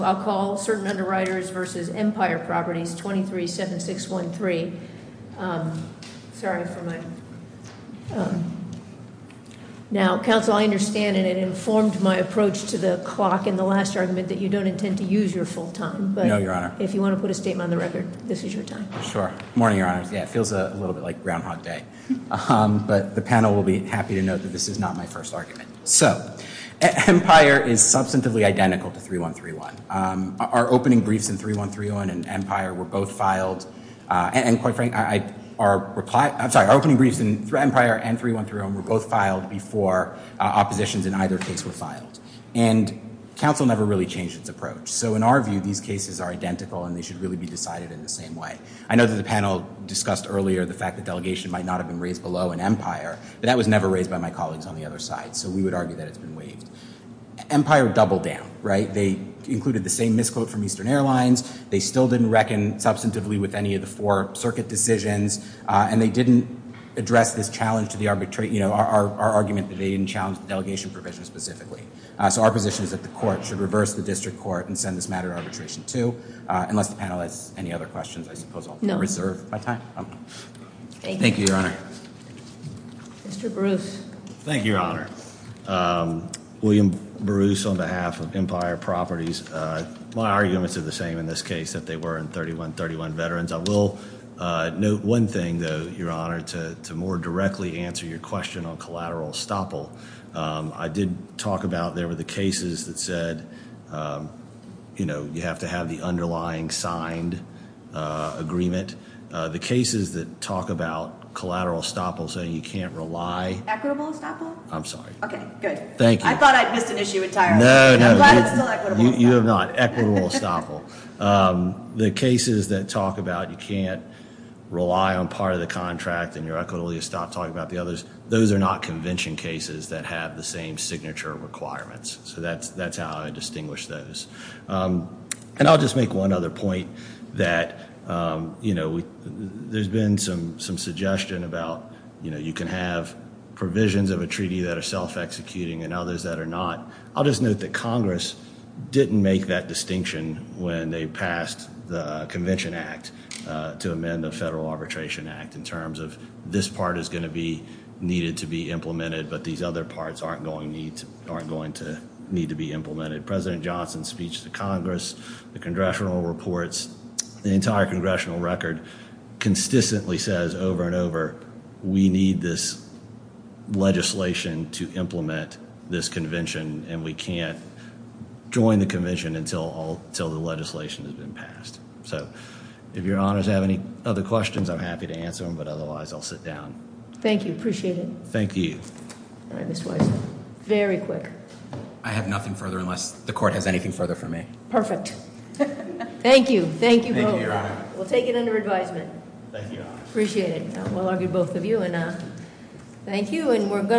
So I'll call Certain Underwriters v. Mpire Properties, 237613. Sorry for my... Now, counsel, I understand and it informed my approach to the clock in the last argument that you don't intend to use your full time. No, Your Honor. If you want to put a statement on the record, this is your time. Sure. Morning, Your Honor. Yeah, it feels a little bit like Groundhog Day. But the panel will be happy to note that this is not my first argument. So Mpire is substantively identical to 3131. Our opening briefs in 3131 and Mpire were both filed. And quite frankly, our reply... I'm sorry. Our opening briefs in Mpire and 3131 were both filed before oppositions in either case were filed. And counsel never really changed its approach. So in our view, these cases are identical and they should really be decided in the same way. I know that the panel discussed earlier the fact that delegation might not have been raised below in Mpire. But that was never raised by my colleagues on the other side. So we would argue that it's been waived. Mpire doubled down, right? They included the same misquote from Eastern Airlines. They still didn't reckon substantively with any of the four circuit decisions. And they didn't address this challenge to the arbitrate. You know, our argument that they didn't challenge the delegation provision specifically. So our position is that the court should reverse the district court and send this matter to arbitration too. Unless the panel has any other questions, I suppose I'll reserve my time. Thank you, Your Honor. Mr. Bruce. Thank you, Your Honor. William Bruce on behalf of Mpire Properties. My arguments are the same in this case that they were in 3131 veterans. I will note one thing, though, Your Honor, to more directly answer your question on collateral estoppel. I did talk about there were the cases that said, you know, you have to have the underlying signed agreement. The cases that talk about collateral estoppel saying you can't rely. Equitable estoppel? I'm sorry. Okay, good. Thank you. I thought I'd missed an issue entirely. No, no. I'm glad it's still equitable. You have not. Equitable estoppel. The cases that talk about you can't rely on part of the contract and you're equitably estoppel talking about the others, those are not convention cases that have the same signature requirements. So that's how I distinguish those. And I'll just make one other point that, you know, there's been some suggestion about, you know, you can have provisions of a treaty that are self-executing and others that are not. I'll just note that Congress didn't make that distinction when they passed the Convention Act to amend the Federal Arbitration Act in terms of this part is going to be needed to be implemented, but these other parts aren't going to need to be implemented. President Johnson's speech to Congress, the congressional reports, the entire congressional record consistently says over and over, we need this legislation to implement this convention and we can't join the convention until the legislation has been passed. So if your honors have any other questions, I'm happy to answer them, but otherwise I'll sit down. Thank you. Appreciate it. Thank you. All right, Mr. Weiser. Very quick. I have nothing further unless the court has anything further for me. Perfect. Thank you. Thank you both. Thank you, Your Honor. We'll take it under advisement. Thank you, Your Honor. Appreciate it. Well argued, both of you, and thank you.